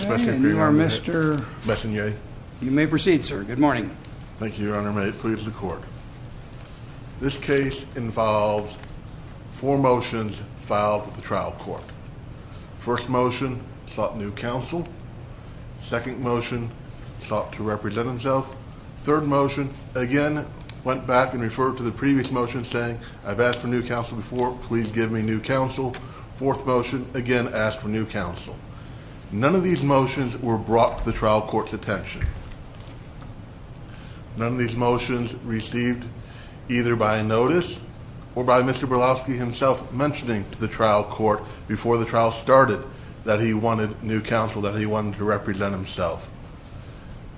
Mr. Messonnier. You may proceed, sir. Good morning. Thank you, Your Honor. May it please the court. This case involves four motions filed with the trial court. First motion sought new counsel. Second motion sought to represent himself. Third motion again went back and referred to the previous motion saying I've asked for new counsel before please give me new counsel. Fourth motion again asked for new counsel. None of these motions were brought to the trial court's attention. None of these motions received either by notice or by Mr. Bilauski himself mentioning to the trial court before the trial started that he wanted new counsel that he wanted to represent himself.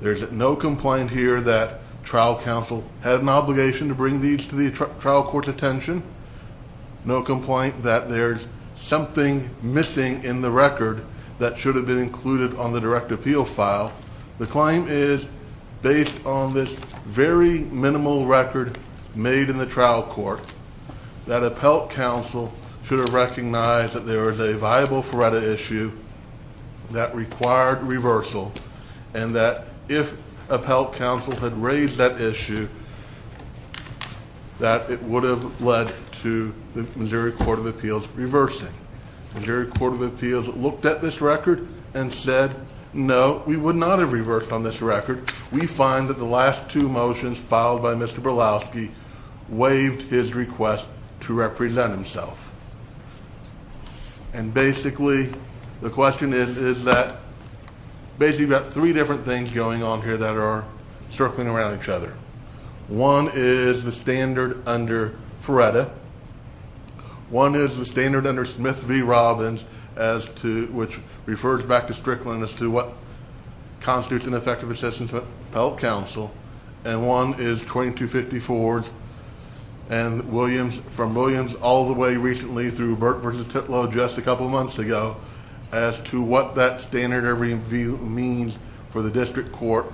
There's no complaint here that trial counsel had an obligation to bring these to the trial court's attention. No complaint that there's something missing in the record that should have been included on the direct appeal file. The claim is based on this very minimal record made in the trial court that appellate counsel should have recognized that there is a viable FREDA issue that required reversal and that if appellate counsel had raised that issue that it would have led to the Missouri Court of Appeals reversing. The Missouri Court of Appeals looked at this record and said no we would not have reversed on this record. We find that the last two motions filed by Mr. Bilauski waived his request to represent himself. And basically the question is is that basically we've got three different things going on here that are circling around each other. One is the standard under FREDA. One is the standard under Smith v. Robbins as to which refers back to Strickland as to what constitutes an effective assistance of appellate counsel. And one is 2250 Ford's and Williams from Williams all the way recently through Burt versus Titlow just a couple months ago as to what that standard review means for the state court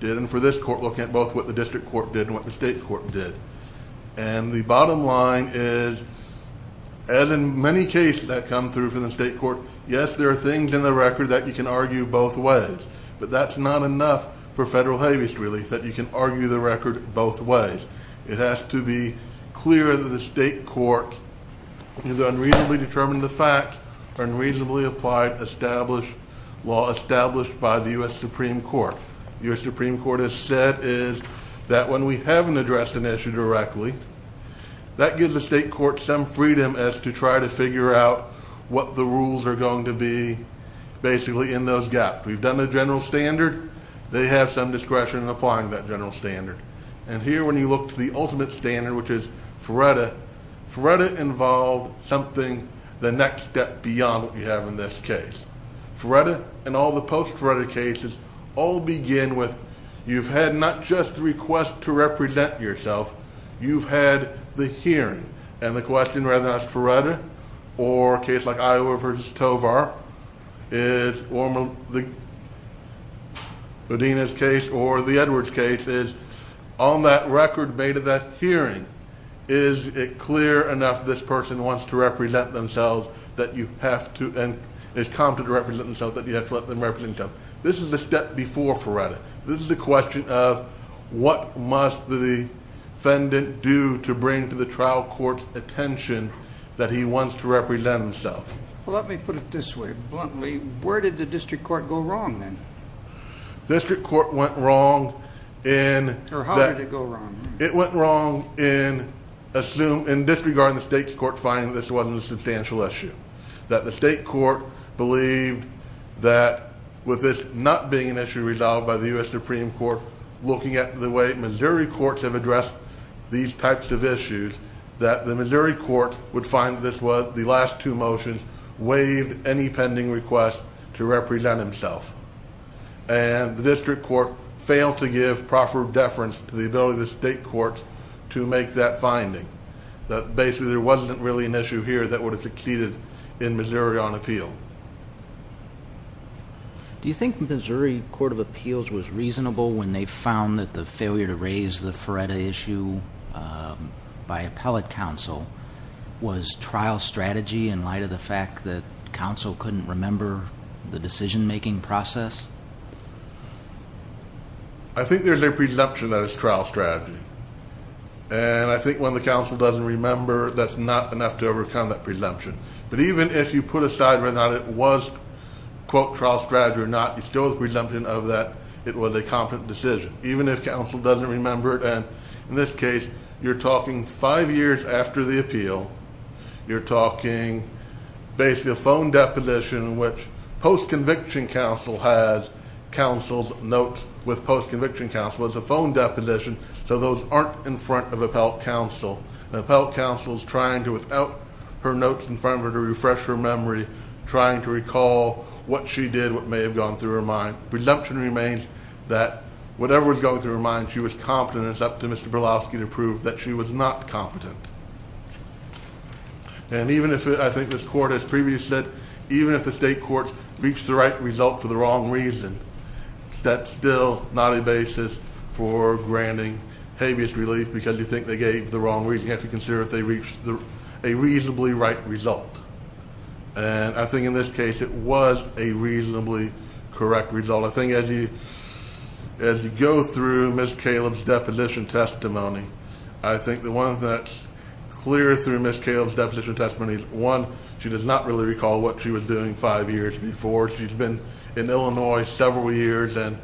and for this court looking at both what the district court did and what the state court did. And the bottom line is as in many cases that come through for the state court yes there are things in the record that you can argue both ways but that's not enough for federal habeas relief that you can argue the record both ways. It has to be clear that the state court is unreasonably determined the facts are unreasonably applied established law established by the US Supreme Court. The US Supreme Court has said is that when we haven't addressed an issue directly that gives the state court some freedom as to try to figure out what the rules are going to be basically in those gaps. We've done the general standard they have some discretion in applying that general standard. And here when you look to the ultimate standard which is FREDA FREDA involved something the next step beyond what we have in this case. FREDA and all the post-FREDA cases all begin with you've had not just the request to represent yourself you've had the hearing and the question rather than FREDA or a case like Iowa versus Tovar or the Houdina's case or the Edwards case is on that record made of that hearing is it clear enough this person wants to represent themselves that you have to let them represent themselves. This is the step before FREDA. This is a question of what must the defendant do to bring to the trial court's attention that he wants to represent himself. Well let me put it this way bluntly where did the district court go wrong then? District court went wrong in that it went wrong in assume in disregarding the state's court finding that this wasn't a substantial issue that the state court believed that with this not being an issue resolved by the US Supreme Court looking at the way Missouri courts have addressed these types of issues that the Missouri court would find this was the last two motions waived any pending requests to represent himself. And the district court failed to give proper deference to the ability of the state court to make that finding that basically there wasn't really an issue here that would have succeeded in Missouri on appeal. Do you think Missouri Court of Appeals was reasonable when they found that the failure to raise the FREDA issue by appellate counsel was trial strategy in light of the fact that counsel couldn't remember the decision-making process? I think there's a presumption that it's trial strategy and I think when the enough to overcome that presumption but even if you put aside whether or not it was quote trial strategy or not you still have presumption of that it was a competent decision even if counsel doesn't remember it and in this case you're talking five years after the appeal you're talking basically a phone deposition in which post conviction counsel has counsel's notes with post conviction counsel as a phone deposition so those aren't in front of appellate counsel and appellate counsel is trying to without her notes in front of her to refresh her memory trying to recall what she did what may have gone through her mind. Presumption remains that whatever was going through her mind she was competent and it's up to Mr. Berlowski to prove that she was not competent. And even if it I think this court as previously said even if the state courts reached the right result for the wrong reason that's still not a basis for granting habeas relief because you think they gave the wrong reason you have to consider if they reached a reasonably right result and I think in this case it was a reasonably correct result. I think as you as you go through Ms. Caleb's deposition testimony I think the one that's clear through Ms. Caleb's deposition testimony is one she does not really recall what she was doing five years before she's been in Illinois several years and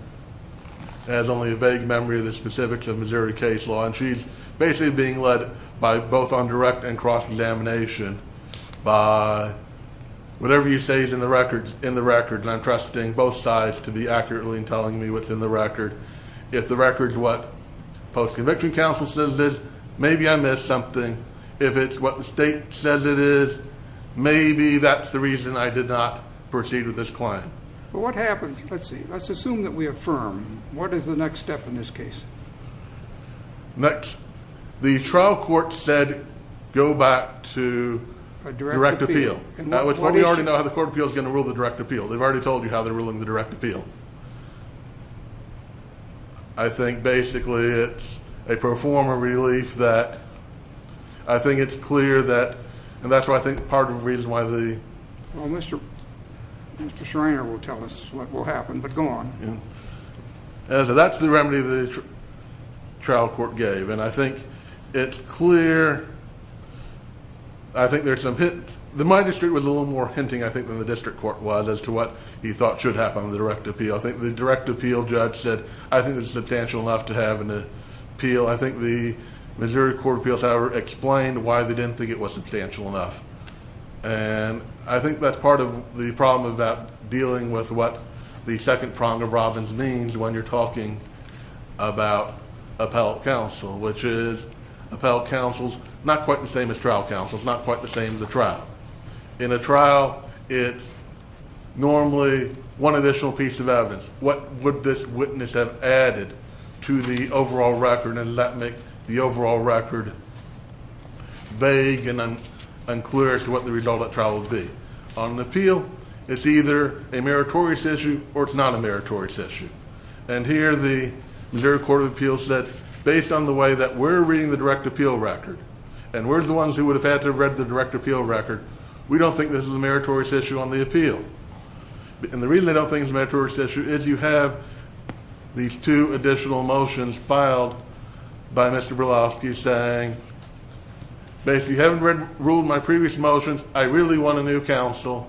has only a vague memory of the specifics of Missouri case law and she's basically being led by both on direct and cross examination by whatever you say is in the records in the records I'm trusting both sides to be accurately in telling me what's in the record if the records what post conviction counsel says is maybe I missed something if it's what the state says it is maybe that's the reason I did not proceed with this client. But what happens let's see let's assume that we Next, the trial court said go back to a direct appeal. We already know how the court of appeals is going to rule the direct appeal they've already told you how they're ruling the direct appeal. I think basically it's a performer relief that I think it's clear that and that's why I think part of the reason why the well Mr. Schreiner will tell us what will happen but go on. That's the remedy the trial court gave and I think it's clear I think there's some hit the my district was a little more hinting I think than the district court was as to what he thought should happen the direct appeal I think the direct appeal judge said I think it's substantial enough to have an appeal I think the Missouri Court of Appeals however explained why they didn't think it was substantial enough and I think that's part of the problem about dealing with what the about appellate counsel which is appellate counsel's not quite the same as trial counsel's not quite the same as the trial. In a trial it's normally one additional piece of evidence what would this witness have added to the overall record and let make the overall record vague and unclear as to what the result of trial would be. On an appeal it's either a meritorious issue or it's not a court of appeals said based on the way that we're reading the direct appeal record and we're the ones who would have had to read the direct appeal record we don't think this is a meritorious issue on the appeal and the reason they don't think it's a meritorious issue is you have these two additional motions filed by Mr. Berlowski saying basically you haven't ruled my previous motions I really want a new counsel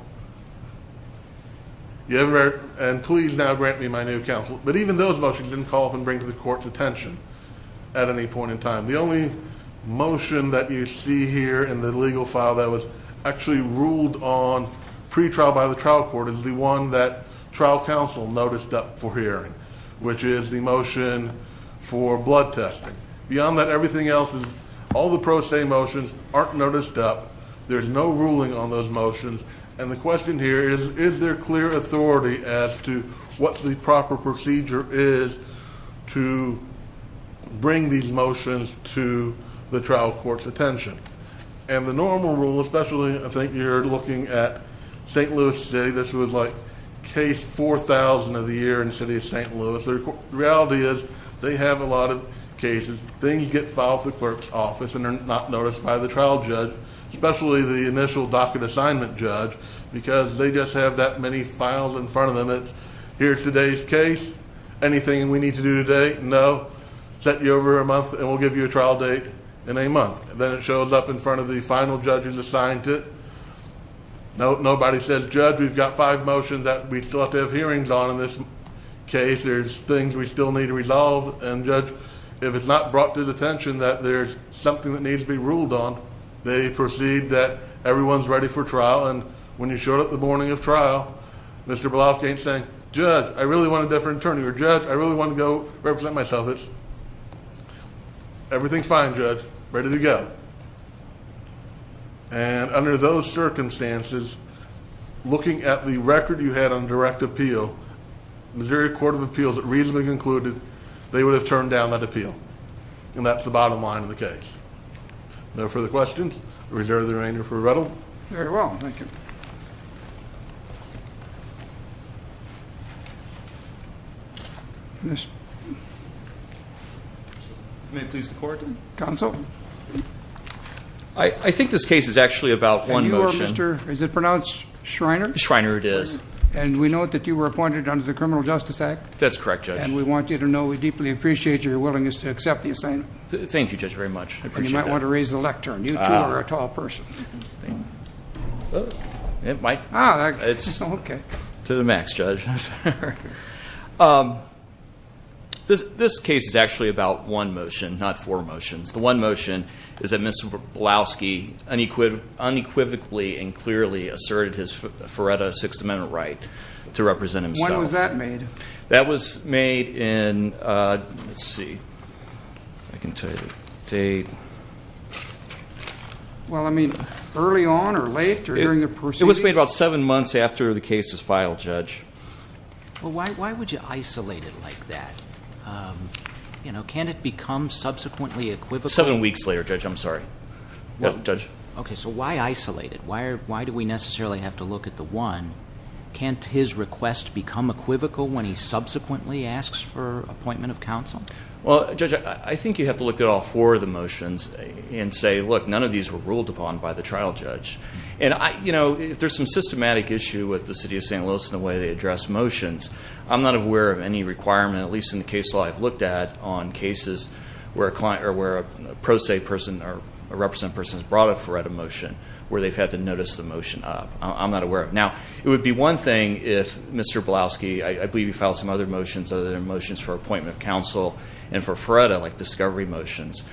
you ever and please now grant me my new counsel but even those motions didn't call up and bring to the court's attention at any point in time the only motion that you see here in the legal file that was actually ruled on pretrial by the trial court is the one that trial counsel noticed up for hearing which is the motion for blood testing beyond that everything else is all the pro se motions aren't noticed up there's no ruling on those motions and the question here is is there clear authority as to what the proper procedure is to bring these motions to the trial court's attention and the normal rule especially I think you're looking at st. Louis say this was like case 4,000 of the year in city of st. Louis their reality is they have a lot of cases things get filed the clerk's office and they're not noticed by the trial judge especially the initial docket assignment judge because they just have that many files in front of them it's here's today's case anything we need to do today no set you over a month and we'll give you a trial date in a month then it shows up in front of the final judge who's assigned to it no nobody says judge we've got five motions that we still have hearings on in this case there's things we still need to resolve and judge if it's not brought to the attention that there's something that needs to be ruled on they proceed that everyone's ready for trial and when you showed up the morning of trial mr. Bluff gain saying judge I really want a different attorney or judge I really want to go represent myself it's everything's fine judge ready to go and under those circumstances looking at the record you had on direct appeal Missouri Court of Appeals that reasonably concluded they would have turned down that appeal and that's the bottom line of the case no further questions reserve the remainder for rebuttal very well thank you this may please the court counsel I think this case is actually about one motion sir is it pronounced Shriner Shriner it is and we know that you were appointed under the criminal justice act that's correct and we want you to know we deeply appreciate your willingness to accept the assignment thank you judge very much you might want to raise the lectern you are a tall person it might it's okay to the max judge this case is actually about one motion not four motions the one motion is that mr. Blavsky unequivocally unequivocally and clearly asserted his for at a Sixth Amendment right to represent him when was made in see I can tell you date well I mean early on or late during the procedure was made about seven months after the case is filed judge well why would you isolate it like that you know can it become subsequently equivocal seven weeks later judge I'm sorry judge okay so why isolate it why are why do we necessarily have to look at the one can't his request become equivocal when he subsequently asks for appointment of counsel well judge I think you have to look at all four of the motions and say look none of these were ruled upon by the trial judge and I you know if there's some systematic issue with the city of st. Louis in the way they address motions I'm not aware of any requirement at least in the case law I've looked at on cases where a client or where a pro se person or a represent person is brought up for at a motion where they've had to notice the motion up I'm not aware of now it would be one thing if mr. Blaski I believe you found some other motions other motions for appointment of counsel and for Fred I like discovery motions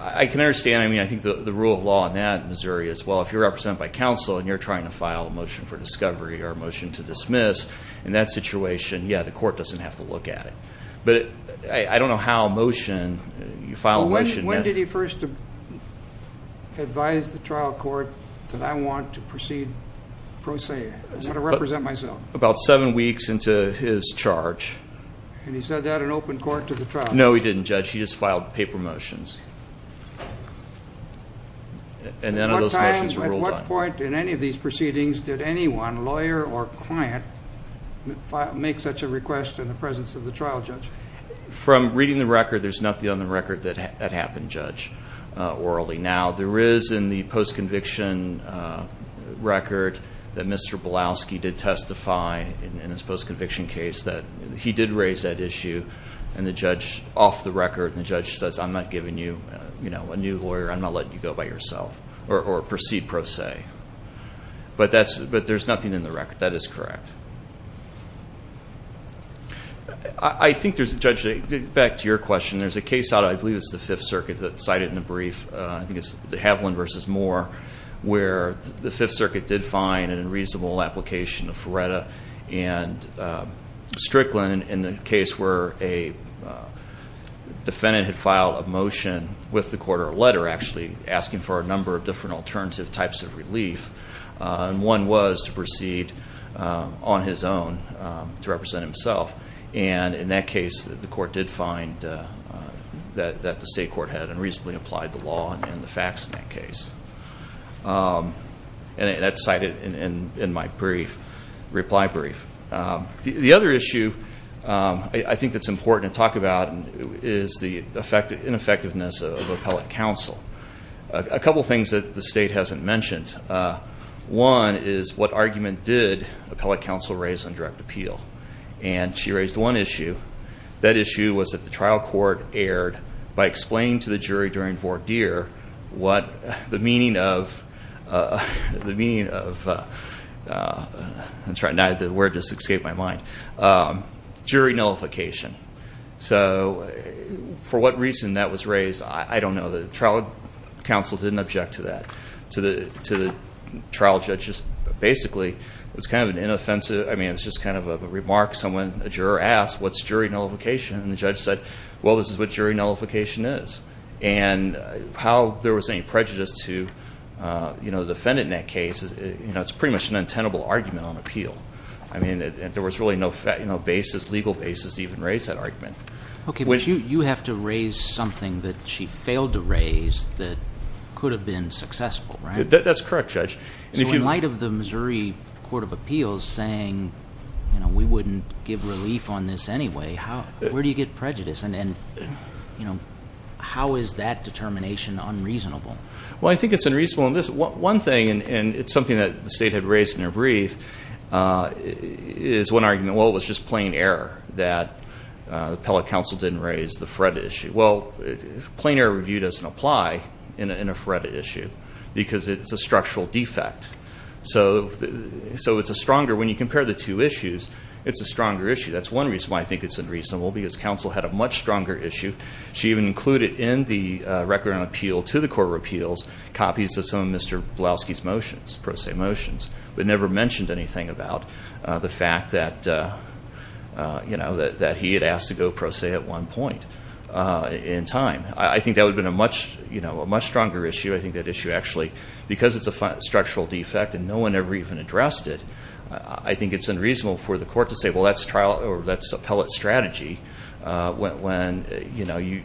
I can understand I mean I think the rule of law in that Missouri as well if you represent by counsel and you're trying to file a motion for discovery or motion to dismiss in that situation yeah the court doesn't have to look at it but I don't know how motion you file when did he first advise the trial court that I want to proceed pro se I represent myself about seven weeks into his charge and he said that an open court to the trial no he didn't judge he just filed paper motions and then at what point in any of these proceedings did anyone lawyer or client make such a request in the presence of the trial judge from reading the record there's nothing on the record that had happened judge orally now there is in the post-conviction record that mr. Blaski did testify in his post-conviction case that he did raise that issue and the judge off the record the judge says I'm not giving you you know a new lawyer I'm not letting you go by yourself or proceed pro se but that's but there's nothing in the record that is correct I think there's a judge back to your question there's a case out I versus more where the Fifth Circuit did find an unreasonable application of Feretta and Strickland in the case where a defendant had filed a motion with the court or letter actually asking for a number of different alternative types of relief and one was to proceed on his own to represent himself and in that case the court did find that the state court had unreasonably applied the law and the facts in that case and that's cited in my brief reply brief the other issue I think that's important to talk about is the effect of ineffectiveness of the appellate counsel a couple things that the state hasn't mentioned one is what argument did appellate counsel raise on direct appeal and she raised one issue that issue was that the trial court aired by explaining to the jury during deer what the meaning of the meaning of that's right neither were just escape my mind jury nullification so for what reason that was raised I don't know the trial counsel didn't object to that to the to the trial judges basically it's kind of an inoffensive I mean it's just kind of a remark someone a juror asked what's jury nullification and the judge said well this is what jury nullification is and how there was any prejudice to you know the defendant in that case is you know it's pretty much an untenable argument on appeal I mean there was really no fact you know basis legal basis even raise that argument okay when you you have to raise something that she failed to raise that could have been successful right that's correct judge if you light of the Missouri Court of Appeals saying you know we wouldn't give relief on this anyway how where do you get prejudice and then you know how is that determination unreasonable well I think it's unreasonable in this one thing and it's something that the state had raised in a brief is one argument well it was just plain error that the appellate counsel didn't raise the fret issue well plainer review doesn't apply in a fret issue because it's a structural defect so so it's a stronger when you compare the two issues it's a stronger issue that's one reason why I had a much stronger issue she even included in the record on appeal to the Court of Appeals copies of some of mr. Blaski's motions pro se motions but never mentioned anything about the fact that you know that he had asked to go pro se at one point in time I think that would been a much you know a much stronger issue I think that issue actually because it's a structural defect and no one ever even addressed it I think it's unreasonable for the court to say well that's trial or that's appellate strategy when you know you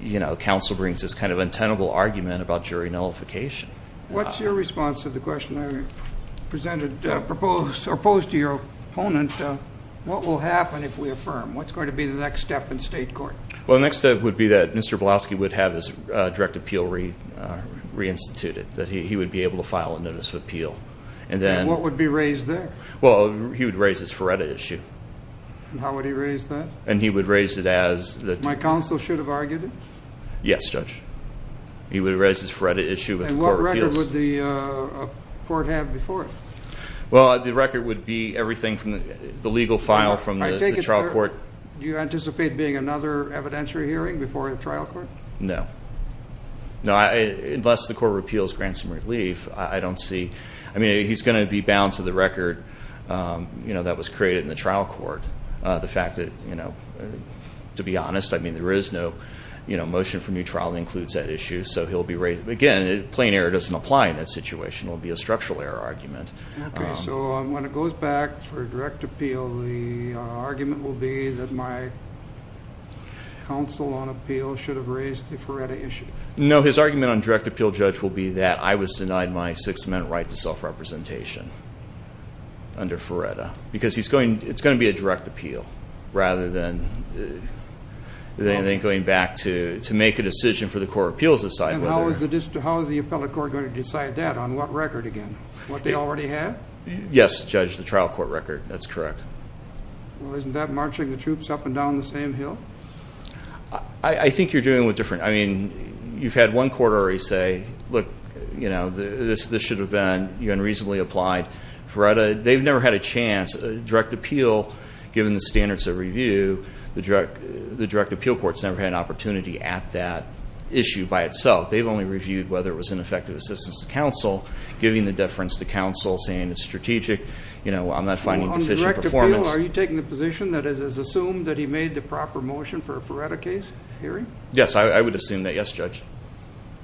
you know counsel brings this kind of untenable argument about jury nullification what's your response to the question I presented proposed or opposed to your opponent what will happen if we affirm what's going to be the next step in state court well next step would be that mr. Blaski would have his direct appeal re reinstituted that he would be able to file a notice of and how would he raise that and he would raise it as that my counsel should have argued yes judge he would raise this for edit issue and what record would the court have before it well the record would be everything from the legal file from my trial court do you anticipate being another evidentiary hearing before a trial court no no I unless the court of appeals grants and relief I don't see I know that was created in the trial court the fact that you know to be honest I mean there is no you know motion for new trial includes that issue so he'll be raised again it plain error doesn't apply in that situation it'll be a structural error argument no his argument on direct appeal judge will be that I was denied my six-minute right to self-representation under Faretta because he's going it's going to be a direct appeal rather than anything going back to to make a decision for the court appeals aside how is the district how is the appellate court going to decide that on what record again what they already have yes judge the trial court record that's correct well isn't that marching the troops up and down the same hill I think you're doing with different I mean you've had one quarter he say look you know this this should have been unreasonably applied for a they've never had a chance direct appeal given the standards of review the drug the direct appeal courts never had an opportunity at that issue by itself they've only reviewed whether it was an effective assistance to counsel giving the deference to counsel saying it's strategic you know I'm not finding efficient performance are you taking the position that is assumed that he made the proper motion for a Faretta case yes I would assume that yes judge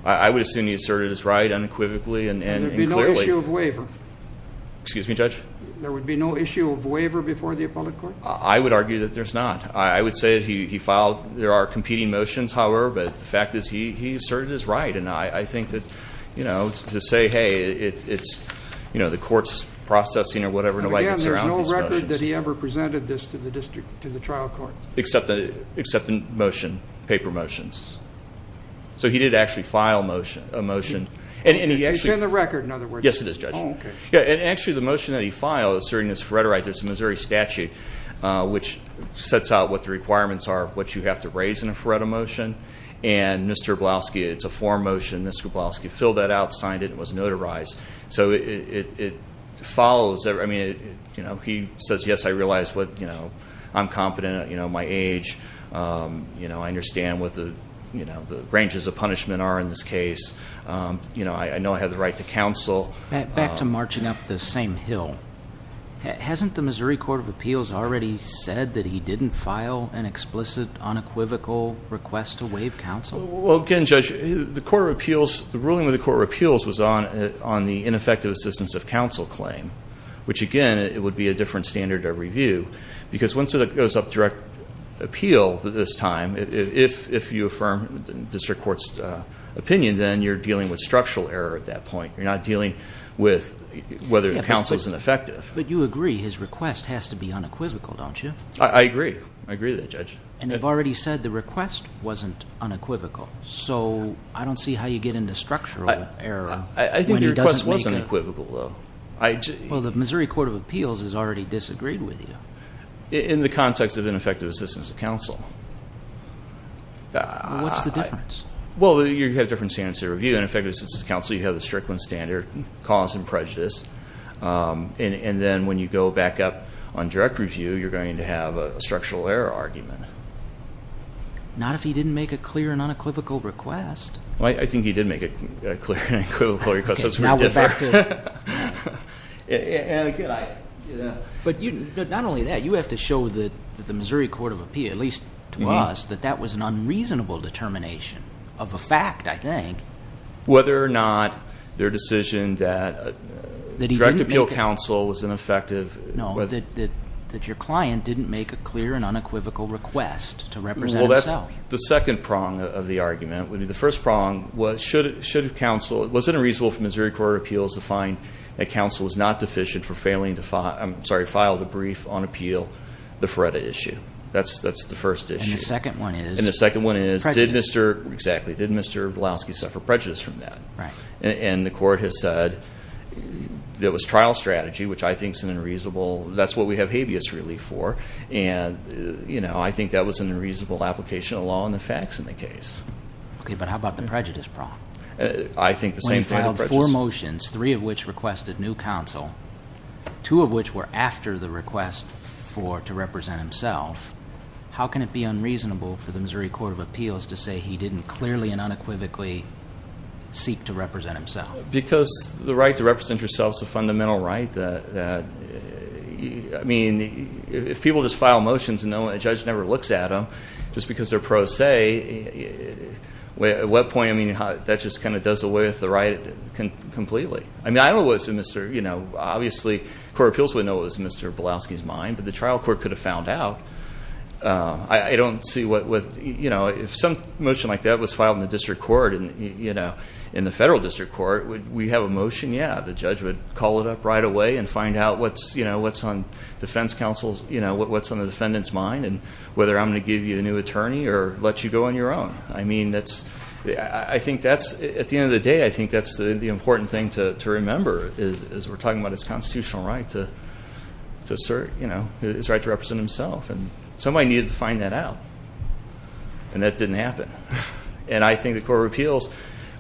I would assume he asserted his right unequivocally and excuse me judge there would be no issue of waiver before the appellate court I would argue that there's not I would say he filed there are competing motions however but the fact is he he asserted his right and I think that you know to say hey it's you know the courts processing or whatever nobody ever presented this to the district to the trial court except that except in motion paper motions so he did actually file motion a motion and any action the record in other words yes it is judge yeah and actually the motion that he filed asserting this Faretta right there's a Missouri statute which sets out what the requirements are what you have to raise in a Faretta motion and mr. Blaski it's a form motion mr. Blaski filled that out signed it was notarized so it follows that I mean you know he says yes I realize what you know I'm confident you know my age you know I understand what the you know the branches of punishment are in this case you know I know I have the right to counsel back to marching up the same hill hasn't the Missouri Court of Appeals already said that he didn't file an explicit unequivocal request to waive counsel well again judge the court of appeals the ruling with the court repeals was on on the ineffective assistance of counsel claim which again it would be a different standard of review because once it goes up direct appeal at this time if you affirm district courts opinion then you're dealing with structural error at that point you're not dealing with whether the council is ineffective but you agree his request has to be unequivocal don't you I agree I agree that judge and I've already said the request wasn't unequivocal so I don't see how you get into structural error I think the Missouri Court of Appeals has already disagreed with you in the context of ineffective assistance of counsel what's the difference well you have different standards to review an effective assistance counsel you have the Strickland standard cause and prejudice and then when you go back up on direct review you're going to have a structural error argument not if he didn't make a clear and unequivocal request I think he did make it clear but you not only that you have to show that the Missouri Court of Appeal at least to us that that was an unreasonable determination of a fact I think whether or not their decision that the direct appeal counsel was ineffective no that that your client didn't make a clear and unequivocal request to represent well that's the second prong of the argument would be the first prong what should it should have counsel it wasn't a reasonable for Missouri Court of Appeals to find that counsel was not deficient for failing to file I'm sorry filed a brief on appeal the FREDA issue that's that's the first issue the second one is and the second one is did mr. exactly did mr. Blaski suffer prejudice from that right and the court has said there was trial strategy which I think is an unreasonable that's what we have habeas relief for and you know I think that was an unreasonable application of law and the facts in the case okay but how about the prejudice problem I think the same trial for motions three of which requested new counsel two of which were after the request for to represent himself how can it be unreasonable for the Missouri Court of Appeals to say he didn't clearly and unequivocally seek to represent himself because the right to represent yourselves a fundamental right that I mean if people just file motions and no judge never looks at them just because they're pro se at what point I mean that just kind of does away with the right completely I mean I was a mr. you know obviously Court of Appeals would know was mr. Blaski's mind but the trial court could have found out I don't see what with you know if some motion like that was filed in the district court and you know in the federal district court would we have a motion yeah the judge would call it up right away and find out what's you know what's on defense counsel's you know what's on the defendants mind and whether I'm give you a new attorney or let you go on your own I mean that's I think that's at the end of the day I think that's the important thing to remember is we're talking about his constitutional right to assert you know it's right to represent himself and somebody needed to find that out and that didn't happen and I think the Court of Appeals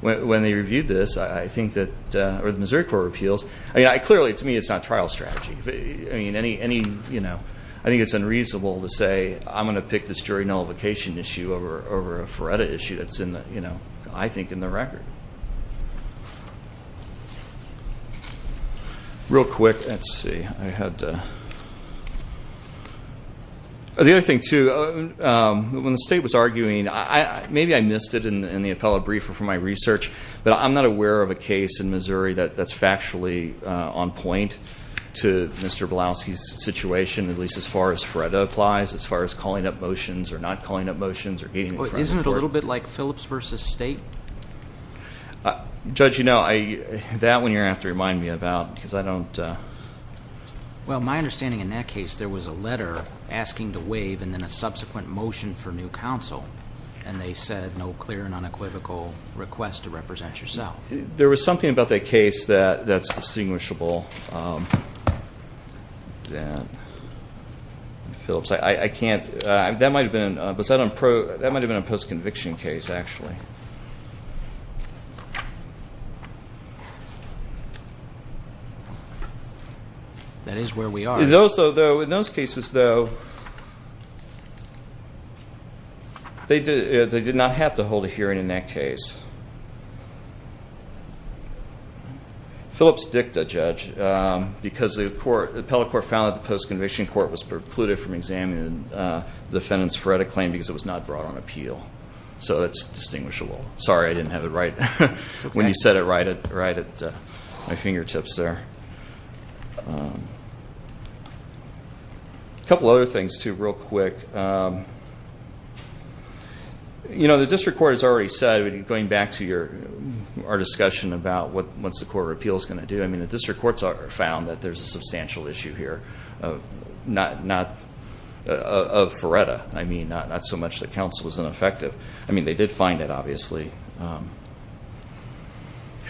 when they reviewed this I think that or the Missouri Court of Appeals I clearly to me it's not trial strategy I mean any any I think it's unreasonable to say I'm gonna pick this jury nullification issue over over a for edit issue that's in the you know I think in the record real quick let's see I had the other thing too when the state was arguing I maybe I missed it in the appellate briefer for my research but I'm not aware of a case in Missouri that that's factually on point to mr. blouse he's situation at least as far as Fred applies as far as calling up motions or not calling up motions or getting isn't it a little bit like Phillips versus state judge you know I that when you're after remind me about because I don't well my understanding in that case there was a letter asking to waive and then a subsequent motion for new counsel and they said no clear and unequivocal request to represent yourself there was something about that case that that's distinguishable that Phillips I I can't that might have been was that I'm pro that might have been a post-conviction case actually that is where we are those although in those cases though they did they did not have to hold a hearing in that case Phillips dicta judge because the court the appellate court found that the post-conviction court was precluded from examining the defendants for a claim because it was not brought on appeal so that's distinguishable sorry I didn't have it right when you said it right it right at my fingertips there a couple other things to real quick you know the district court has already said going back to your our discussion about what once the court of appeals going to do I mean the district courts are found that there's a substantial issue here of not not of Faretta I mean not not so much that counsel was ineffective I mean they did find that obviously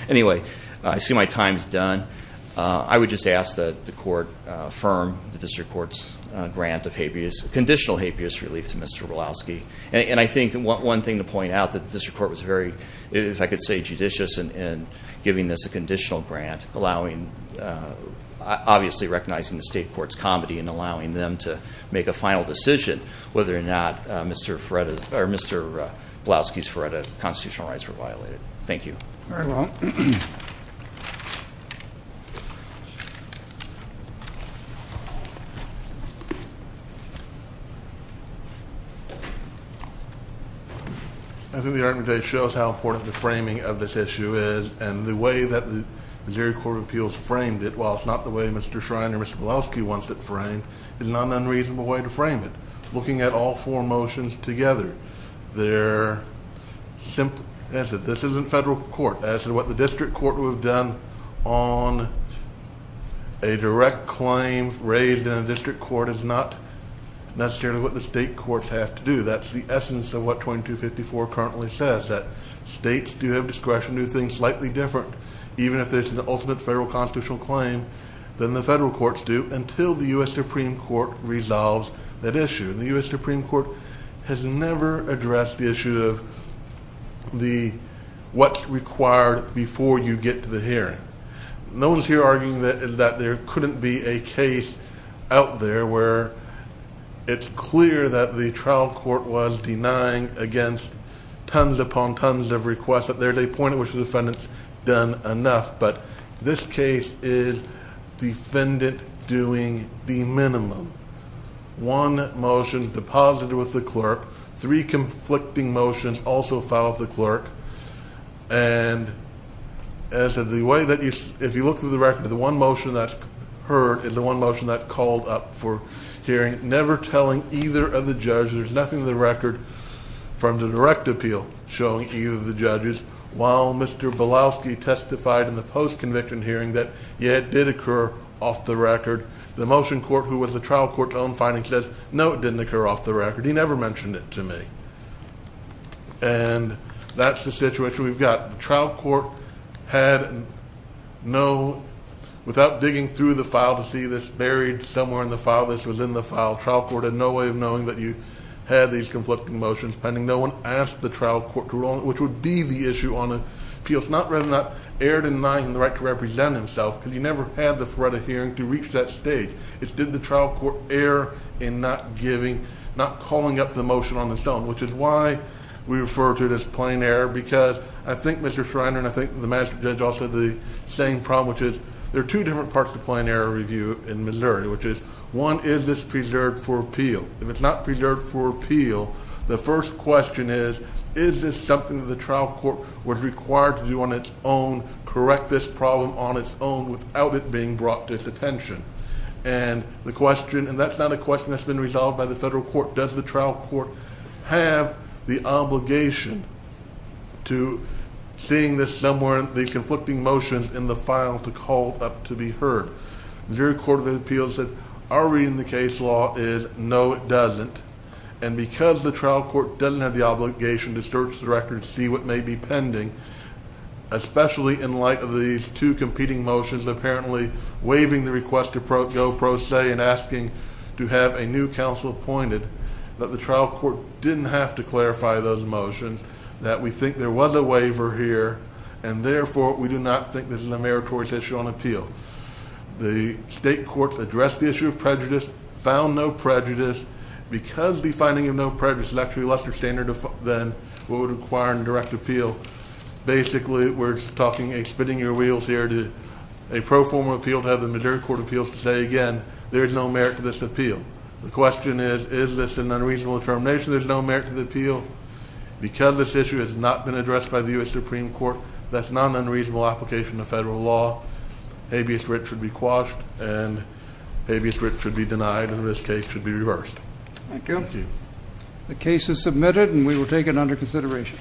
anyway I see my time's done I would just ask that the conditional habeas relief to mr. Woloski and I think one thing to point out that this report was very if I could say judicious and giving this a conditional grant allowing obviously recognizing the state courts comedy and allowing them to make a final decision whether or not mr. Fred or mr. Blaski's for a constitutional rights were violated thank you I think the argument a shows how important the framing of this issue is and the way that the Missouri Court of Appeals framed it well it's not the way mr. Shrine or mr. Blaski wants that frame is not an unreasonable way to frame it looking at all four motions together they're simple as that this isn't federal court as to what the district court would have done on a claim raised in a district court is not necessarily what the state courts have to do that's the essence of what 2254 currently says that states do have discretion do things slightly different even if there's an ultimate federal constitutional claim then the federal courts do until the u.s. Supreme Court resolves that issue the u.s. Supreme Court has never addressed the issue of the what's required before you get to the hearing no one's here arguing that there couldn't be a case out there where it's clear that the trial court was denying against tons upon tons of requests that there's a point in which the defendants done enough but this case is defendant doing the minimum one motion deposited with the clerk three conflicting motions also filed the clerk and as of the way that you if you look through the record of the one motion that's heard is the one motion that called up for hearing never telling either of the judges nothing the record from the direct appeal showing to you the judges while mr. Blaski testified in the post-conviction hearing that yet did occur off the record the motion court who was the trial court's own finding says no it didn't occur off the record he never mentioned it to me and that's the situation we've got the trial court had no without digging through the file to see this buried somewhere in the file this was in the file trial court had no way of knowing that you had these conflicting motions pending no one asked the trial court to roll it which would be the issue on appeal it's not written up aired in line in the right to represent himself because you never had the threat of hearing to reach that stage it's did the trial court air in not giving not calling up the motion on its own which is why we refer to this plane air because I think mr. Schreiner and I think the master judge also the same problem which is there are two different parts of plane air review in Missouri which is one is this preserved for appeal if it's not preserved for appeal the first question is is this something the trial court was required to do on its own correct this problem on its own without it being brought to its attention and the question and that's not a question that's been resolved by the federal court does the trial court have the obligation to seeing this somewhere the conflicting motions in the file to call up to be heard very court of appeals that are reading the case law is no it doesn't and because the trial court doesn't have the obligation to search the record see what may be pending especially in light of these two competing motions apparently waiving the request to go pro se and asking to have a new counsel pointed that the trial court didn't have to clarify those motions that we think there was a waiver here and therefore we do not think this is a meritorious issue on appeal the state courts address the issue of prejudice found no prejudice because the finding of no prejudice is actually lesser standard of then what would require and direct appeal basically we're talking a spinning your appeal to have the majority court of appeals to say again there's no merit to this appeal the question is is this an unreasonable determination there's no merit to the appeal because this issue has not been addressed by the US Supreme Court that's not an unreasonable application of federal law habeas rich should be quashed and habeas rich should be denied in this case should be reversed the case is submitted and we will take it under consideration